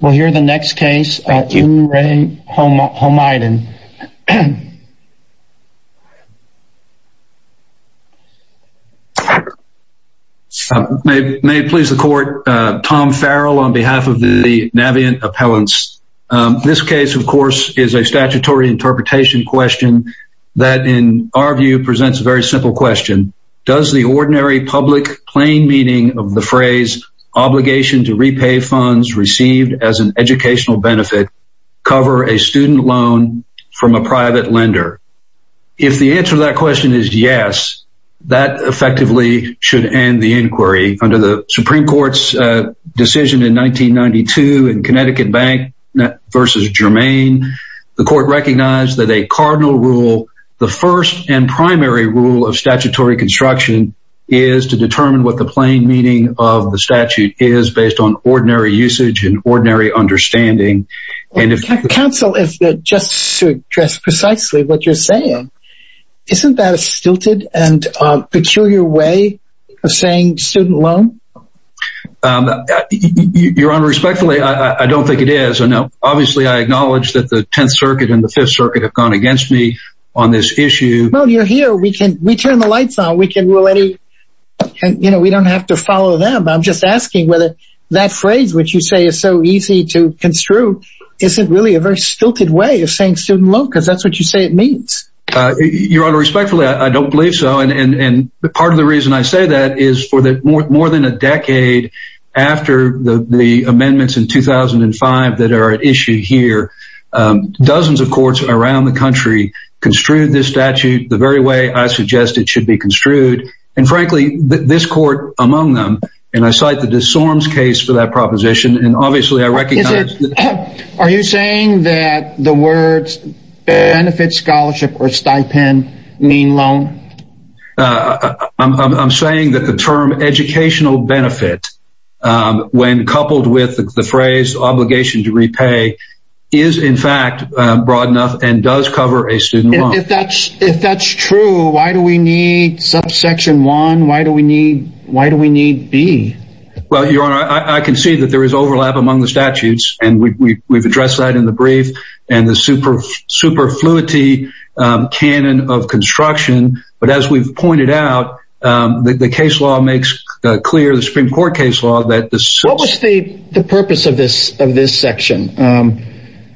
We'll hear the next case, Il-Rae Homaidan. May it please the court, Tom Farrell on behalf of the Navient Appellants. This case, of course, is a statutory interpretation question that, in our view, presents a very simple question. Does the ordinary public plain meaning of the phrase, obligation to repay funds received as an educational benefit, cover a student loan from a private lender? If the answer to that question is yes, that effectively should end the inquiry. Under the Supreme Court's decision in 1992 in Connecticut Bank v. Germain, the court recognized that a cardinal rule, the first and primary rule of statutory construction, is to determine what the plain meaning of the statute is based on ordinary usage and ordinary understanding. Counsel, just to address precisely what you're saying, isn't that a stilted and peculiar way of saying student loan? Your Honor, respectfully, I don't think it is. Obviously, I acknowledge that the Tenth Circuit and the Fifth Circuit have gone against me on this issue. Well, you're here. We turn the lights on. We don't have to follow them. I'm just asking whether that phrase, which you say is so easy to construe, isn't really a very stilted way of saying student loan, because that's what you say it means. Your Honor, respectfully, I don't believe so. And part of the reason I say that is for more than a decade after the amendments in 2005 that are at issue here, dozens of courts around the country construed this statute the very way I suggest it should be construed. And frankly, this court among them, and I cite the DeSormes case for that proposition, and obviously I recognize... Are you saying that the words benefit, scholarship, or stipend mean loan? I'm saying that the term educational benefit, when coupled with the phrase obligation to repay, is in fact broad enough and does cover a student loan. If that's true, why do we need subsection 1? Why do we need B? Well, Your Honor, I can see that there is overlap among the statutes, and we've addressed that in the brief, and the superfluity canon of construction. But as we've pointed out, the case law makes clear, the Supreme Court case law... What was the purpose of this section?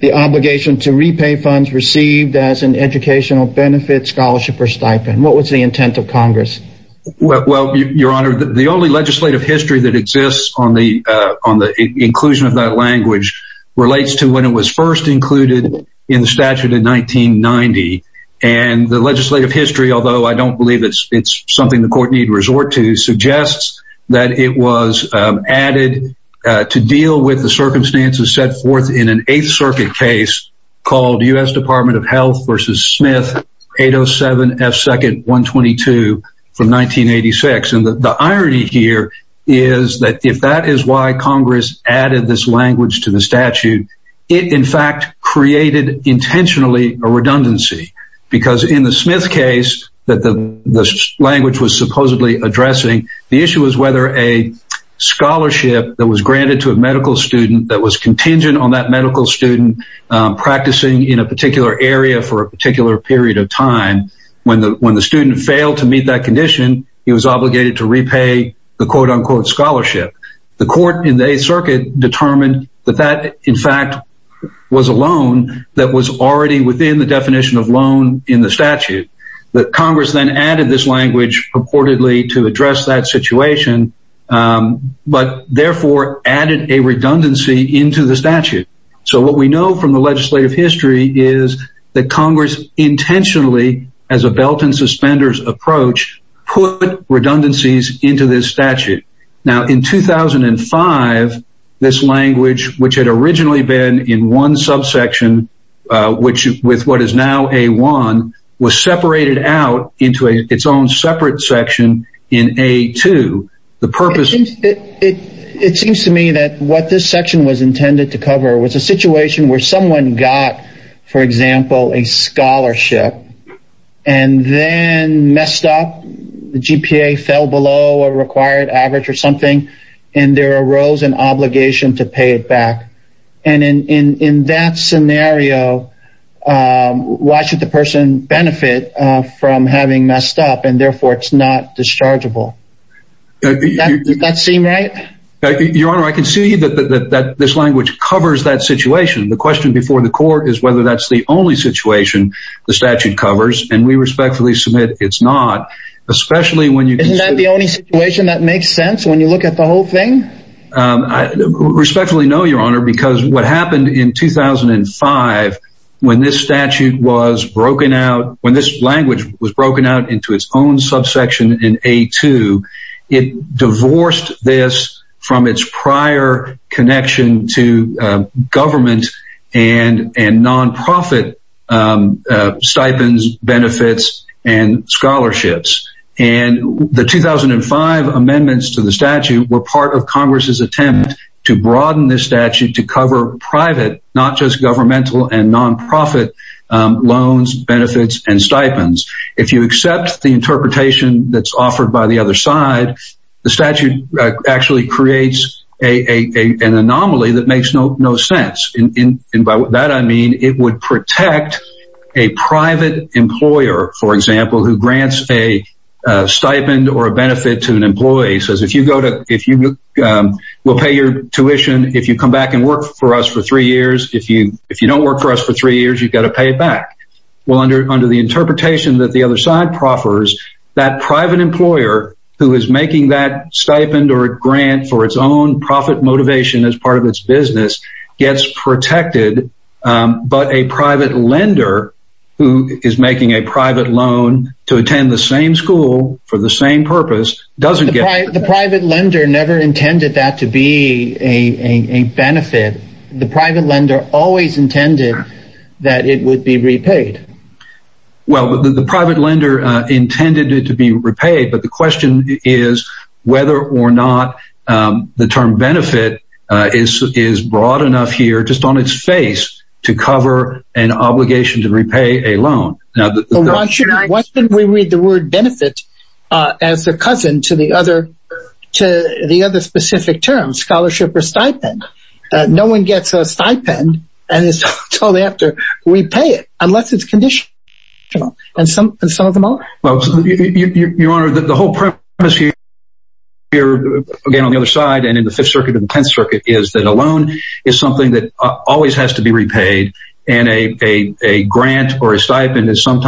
The obligation to repay funds received as an educational benefit, scholarship, or stipend? What was the intent of Congress? Well, Your Honor, the only legislative history that exists on the inclusion of that language relates to when it was first included in the statute in 1990. And the legislative history, although I don't believe it's something the court need resort to, suggests that it was added to deal with the circumstances set forth in an Eighth Circuit case called U.S. Department of Health v. Smith 807 F. 2nd 122 from 1986. And the irony here is that if that is why Congress added this language to the statute, it in fact created intentionally a redundancy. Because in the Smith case that the language was supposedly addressing, the issue was whether a scholarship that was granted to a medical student that was contingent on that medical student practicing in a particular area for a particular period of time. And when the student failed to meet that condition, he was obligated to repay the quote-unquote scholarship. The court in the Eighth Circuit determined that that, in fact, was a loan that was already within the definition of loan in the statute. But Congress then added this language purportedly to address that situation, but therefore added a redundancy into the statute. So what we know from the legislative history is that Congress intentionally, as a belt and suspenders approach, put redundancies into this statute. Now, in 2005, this language, which had originally been in one subsection, which with what is now A1, was separated out into its own separate section in A2. It seems to me that what this section was intended to cover was a situation where someone got, for example, a scholarship and then messed up. The GPA fell below a required average or something, and there arose an obligation to pay it back. And in that scenario, why should the person benefit from having messed up, and therefore it's not dischargeable? Does that seem right? Your Honor, I can see that this language covers that situation. The question before the court is whether that's the only situation the statute covers, and we respectfully submit it's not, especially when you— Isn't that the only situation that makes sense when you look at the whole thing? Respectfully no, Your Honor, because what happened in 2005, when this statute was broken out, when this language was broken out into its own subsection in A2, it divorced this from its prior connection to government and nonprofit stipends, benefits, and scholarships. And the 2005 amendments to the statute were part of Congress's attempt to broaden this statute to cover private, not just governmental and nonprofit loans, benefits, and stipends. If you accept the interpretation that's offered by the other side, the statute actually creates an anomaly that makes no sense. And by that I mean it would protect a private employer, for example, who grants a stipend or a benefit to an employee. It says if you go to—we'll pay your tuition if you come back and work for us for three years. If you don't work for us for three years, you've got to pay it back. Well, under the interpretation that the other side proffers, that private employer who is making that stipend or grant for its own profit motivation as part of its business gets protected, but a private lender who is making a private loan to attend the same school for the same purpose doesn't get— Well, the private lender intended it to be repaid, but the question is whether or not the term benefit is broad enough here just on its face to cover an obligation to repay a loan. Why shouldn't we read the word benefit as a cousin to the other specific term, scholarship or stipend? No one gets a stipend and is told they have to repay it unless it's conditional, and some of them are. Well, Your Honor, the whole premise here, again, on the other side and in the Fifth Circuit and the Tenth Circuit is that a loan is something that always has to be repaid, and a grant or a stipend is something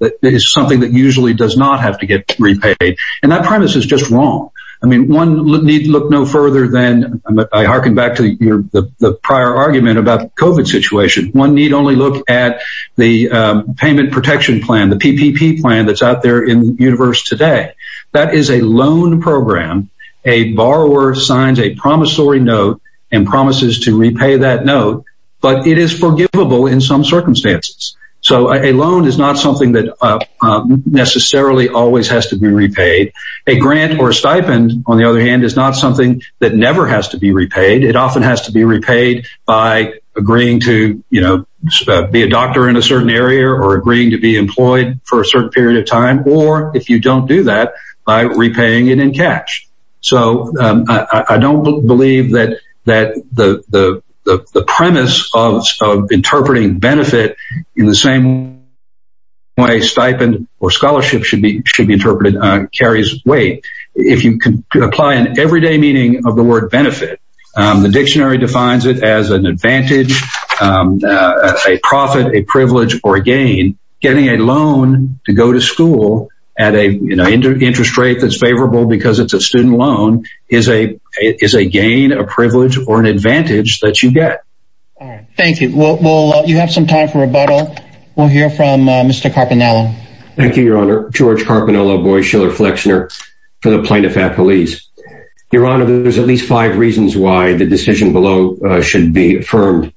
that usually does not have to get repaid, and that premise is just wrong. I mean, one need look no further than—I hearken back to the prior argument about the COVID situation. One need only look at the payment protection plan, the PPP plan that's out there in the universe today. That is a loan program. A borrower signs a promissory note and promises to repay that note, but it is forgivable in some circumstances, so a loan is not something that necessarily always has to be repaid. A grant or a stipend, on the other hand, is not something that never has to be repaid. It often has to be repaid by agreeing to, you know, be a doctor in a certain area or agreeing to be employed for a certain period of time, or if you don't do that, by repaying it in cash. So I don't believe that the premise of interpreting benefit in the same way stipend or scholarship should be interpreted carries weight. If you apply an everyday meaning of the word benefit, the dictionary defines it as an advantage, a profit, a privilege, or a gain. Getting a loan to go to school at an interest rate that's favorable because it's a student loan is a gain, a privilege, or an advantage that you get. Thank you. Well, you have some time for rebuttal. We'll hear from Mr. Carpinello. Thank you, Your Honor. George Carpinello, Boies Schiller Flexner for the Plaintiff-Appellees. Your Honor, there's at least five reasons why the decision below should be affirmed.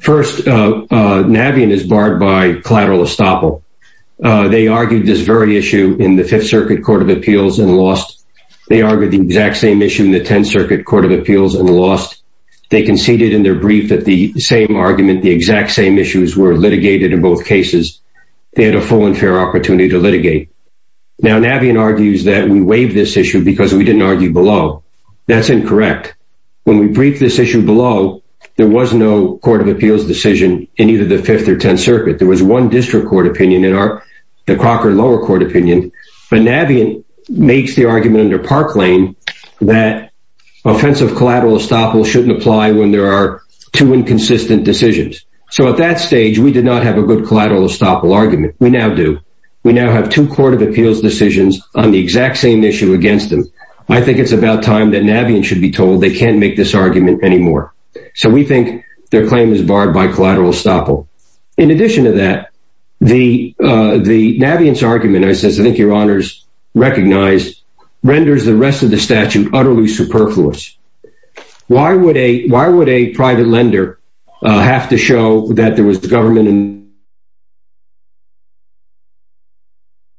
First, Navien is barred by collateral estoppel. They argued this very issue in the Fifth Circuit Court of Appeals and lost. They argued the exact same issue in the Tenth Circuit Court of Appeals and lost. They conceded in their brief that the same argument, the exact same issues were litigated in both cases. They had a full and fair opportunity to litigate. Now, Navien argues that we waived this issue because we didn't argue below. That's incorrect. When we briefed this issue below, there was no Court of Appeals decision in either the Fifth or Tenth Circuit. There was one district court opinion in our—the Crocker lower court opinion. But Navien makes the argument under Parklane that offensive collateral estoppel shouldn't apply when there are two inconsistent decisions. So at that stage, we did not have a good collateral estoppel argument. We now do. We now have two Court of Appeals decisions on the exact same issue against them. I think it's about time that Navien should be told they can't make this argument anymore. So we think their claim is barred by collateral estoppel. In addition to that, the—Navien's argument, as I think your honors recognize, renders the rest of the statute utterly superfluous. Why would a—why would a private lender have to show that there was government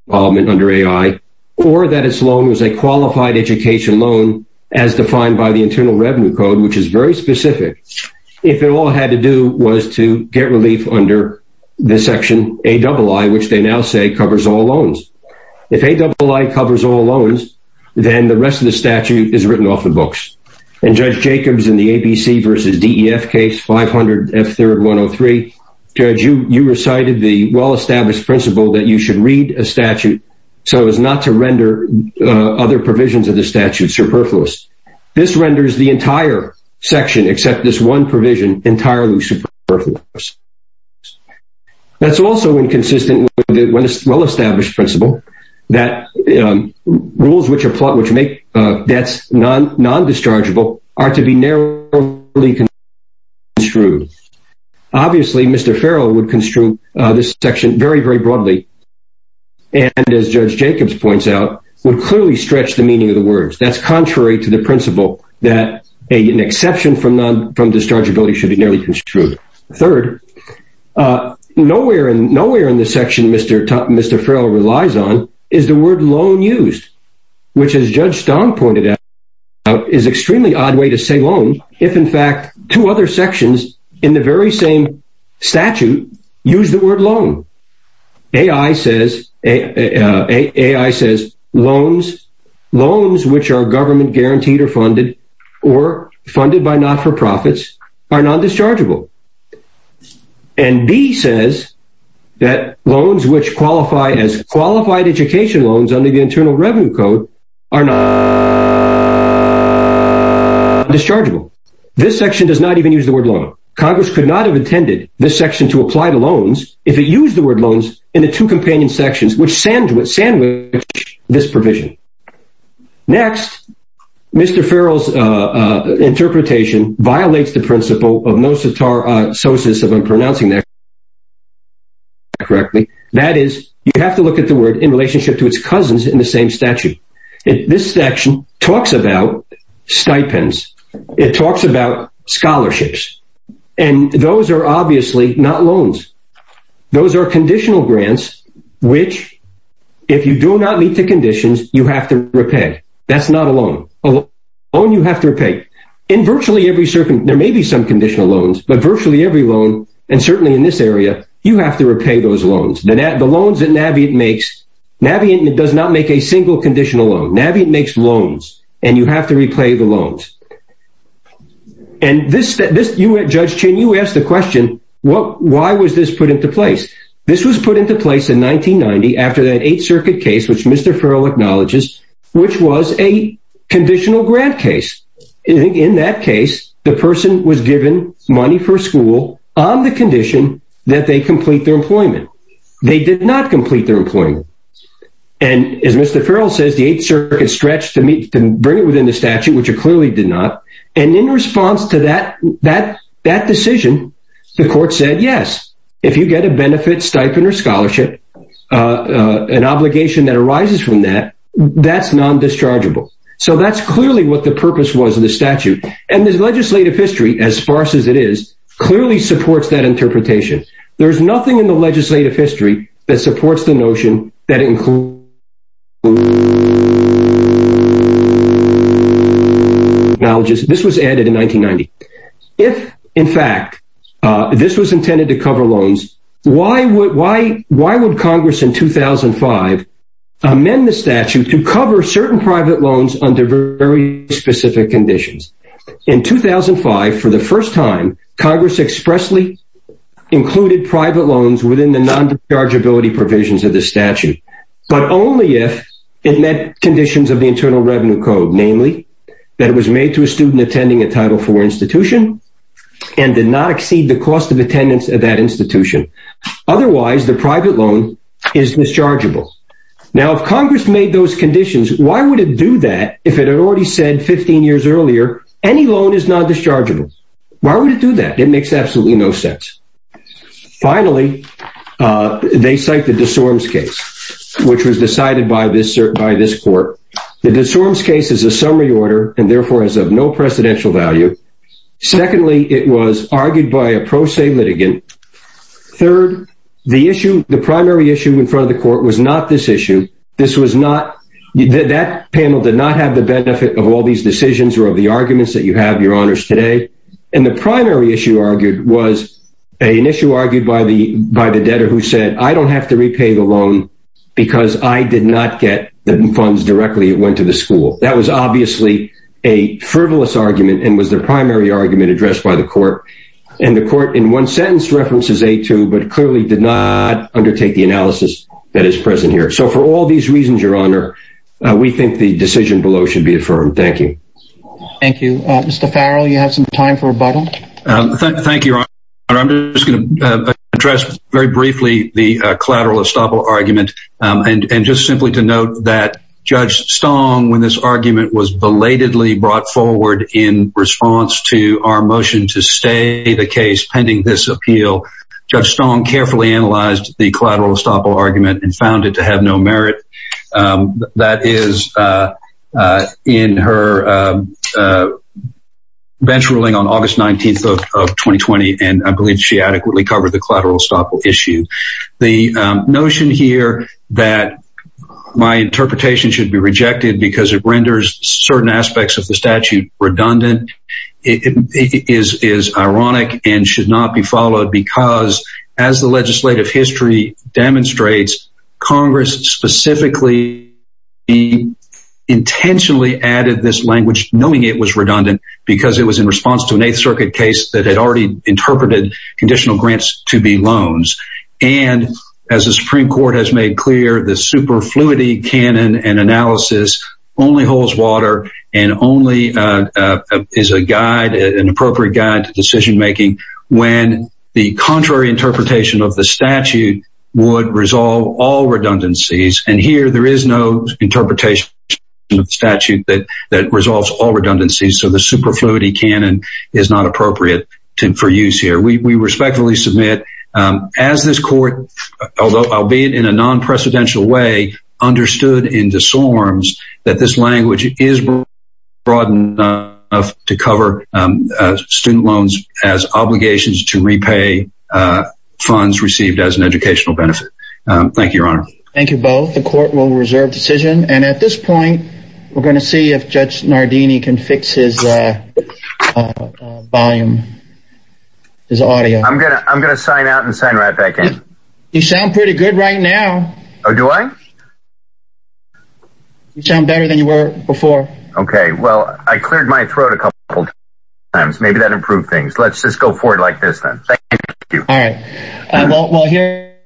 involvement under A.I. or that its loan was a qualified education loan as defined by the Internal Revenue Code, which is very specific, if it all had to do was to get relief under this section, A.I.I., which they now say covers all loans? If A.I.I. covers all loans, then the rest of the statute is written off the books. In Judge Jacobs in the ABC versus DEF case, 500 F. 3rd 103, Judge, you recited the well-established principle that you should read a statute so as not to render other provisions of the statute superfluous. This renders the entire section, except this one provision, entirely superfluous. That's also inconsistent with the well-established principle that rules which make debts non-dischargeable are to be narrowly construed. Obviously, Mr. Farrell would construe this section very, very broadly and, as Judge Jacobs points out, would clearly stretch the meaning of the words. That's contrary to the principle that an exception from non—from dischargeability should be narrowly construed. Third, nowhere in the section Mr. Farrell relies on is the word loan used, which, as Judge Stone pointed out, is an extremely odd way to say loan if, in fact, two other sections in the very same statute use the word loan. A.I. says—A.I. says loans—loans which are government-guaranteed or funded or funded by not-for-profits are non-dischargeable. And B. says that loans which qualify as qualified education loans under the Internal Revenue Code are non-dischargeable. This section does not even use the word loan. Congress could not have intended this section to apply to loans if it used the word loans in the two companion sections which sandwich this provision. Next, Mr. Farrell's interpretation violates the principle of nosotrosis of unpronouncing that correctly. That is, you have to look at the word in relationship to its cousins in the same statute. This section talks about stipends. It talks about scholarships. And those are obviously not loans. Those are conditional grants which, if you do not meet the conditions, you have to repay. That's not a loan. A loan you have to repay. In virtually every—there may be some conditional loans, but virtually every loan, and certainly in this area, you have to repay those loans. The loans that Navient makes—Navient does not make a single conditional loan. Navient makes loans, and you have to repay the loans. And this—Judge Chin, you asked the question, why was this put into place? This was put into place in 1990 after that Eighth Circuit case, which Mr. Farrell acknowledges, which was a conditional grant case. In that case, the person was given money for school on the condition that they complete their employment. They did not complete their employment. And as Mr. Farrell says, the Eighth Circuit stretched to bring it within the statute, which it clearly did not. And in response to that decision, the court said, yes, if you get a benefit, stipend, or scholarship, an obligation that arises from that, that's non-dischargeable. So that's clearly what the purpose was of the statute. And the legislative history, as sparse as it is, clearly supports that interpretation. There's nothing in the legislative history that supports the notion that it includes— —acknowledges—this was added in 1990. If, in fact, this was intended to cover loans, why would Congress in 2005 amend the statute to cover certain private loans under very specific conditions? In 2005, for the first time, Congress expressly included private loans within the non-dischargeability provisions of the statute. But only if it met conditions of the Internal Revenue Code, namely, that it was made to a student attending a Title IV institution and did not exceed the cost of attendance at that institution. Otherwise, the private loan is dischargeable. Now, if Congress made those conditions, why would it do that if it had already said 15 years earlier, any loan is non-dischargeable? Why would it do that? It makes absolutely no sense. Finally, they cite the de Sormes case, which was decided by this court. The de Sormes case is a summary order and, therefore, is of no precedential value. Secondly, it was argued by a pro se litigant. Third, the issue—the primary issue in front of the court was not this issue. This was not—that panel did not have the benefit of all these decisions or of the arguments that you have, Your Honors, today. And the primary issue argued was an issue argued by the debtor who said, I don't have to repay the loan because I did not get the funds directly that went to the school. That was obviously a frivolous argument and was the primary argument addressed by the court. And the court, in one sentence, references 8-2, but clearly did not undertake the analysis that is present here. So for all these reasons, Your Honor, we think the decision below should be affirmed. Thank you. Thank you. Mr. Farrell, you have some time for rebuttal. Thank you, Your Honor. I'm just going to address very briefly the collateral estoppel argument. And just simply to note that Judge Stong, when this argument was belatedly brought forward in response to our motion to stay the case pending this appeal, Judge Stong carefully analyzed the collateral estoppel argument and found it to have no merit. That is in her bench ruling on August 19th of 2020, and I believe she adequately covered the collateral estoppel issue. The notion here that my interpretation should be rejected because it renders certain aspects of the statute redundant is ironic and should not be followed because, as the legislative history demonstrates, Congress specifically intentionally added this language knowing it was redundant because it was in response to an Eighth Circuit case that had already interpreted conditional grants to be loans. And as the Supreme Court has made clear, the superfluity canon and analysis only holds water and only is an appropriate guide to decision-making when the contrary interpretation of the statute would resolve all redundancies. And here, there is no interpretation of the statute that resolves all redundancies, so the superfluity canon is not appropriate for use here. We respectfully submit, as this court, although albeit in a non-precedential way, understood in disarms that this language is broad enough to cover student loans as obligations to repay funds received as an educational benefit. Thank you both. The court will reserve decision, and at this point, we're going to see if Judge Nardini can fix his volume, his audio. I'm going to sign out and sign right back in. You sound pretty good right now. Oh, do I? You sound better than you were before. Okay, well, I cleared my throat a couple times. Maybe that improved things. Let's just go forward like this, then. Thank you. All right. Well, here...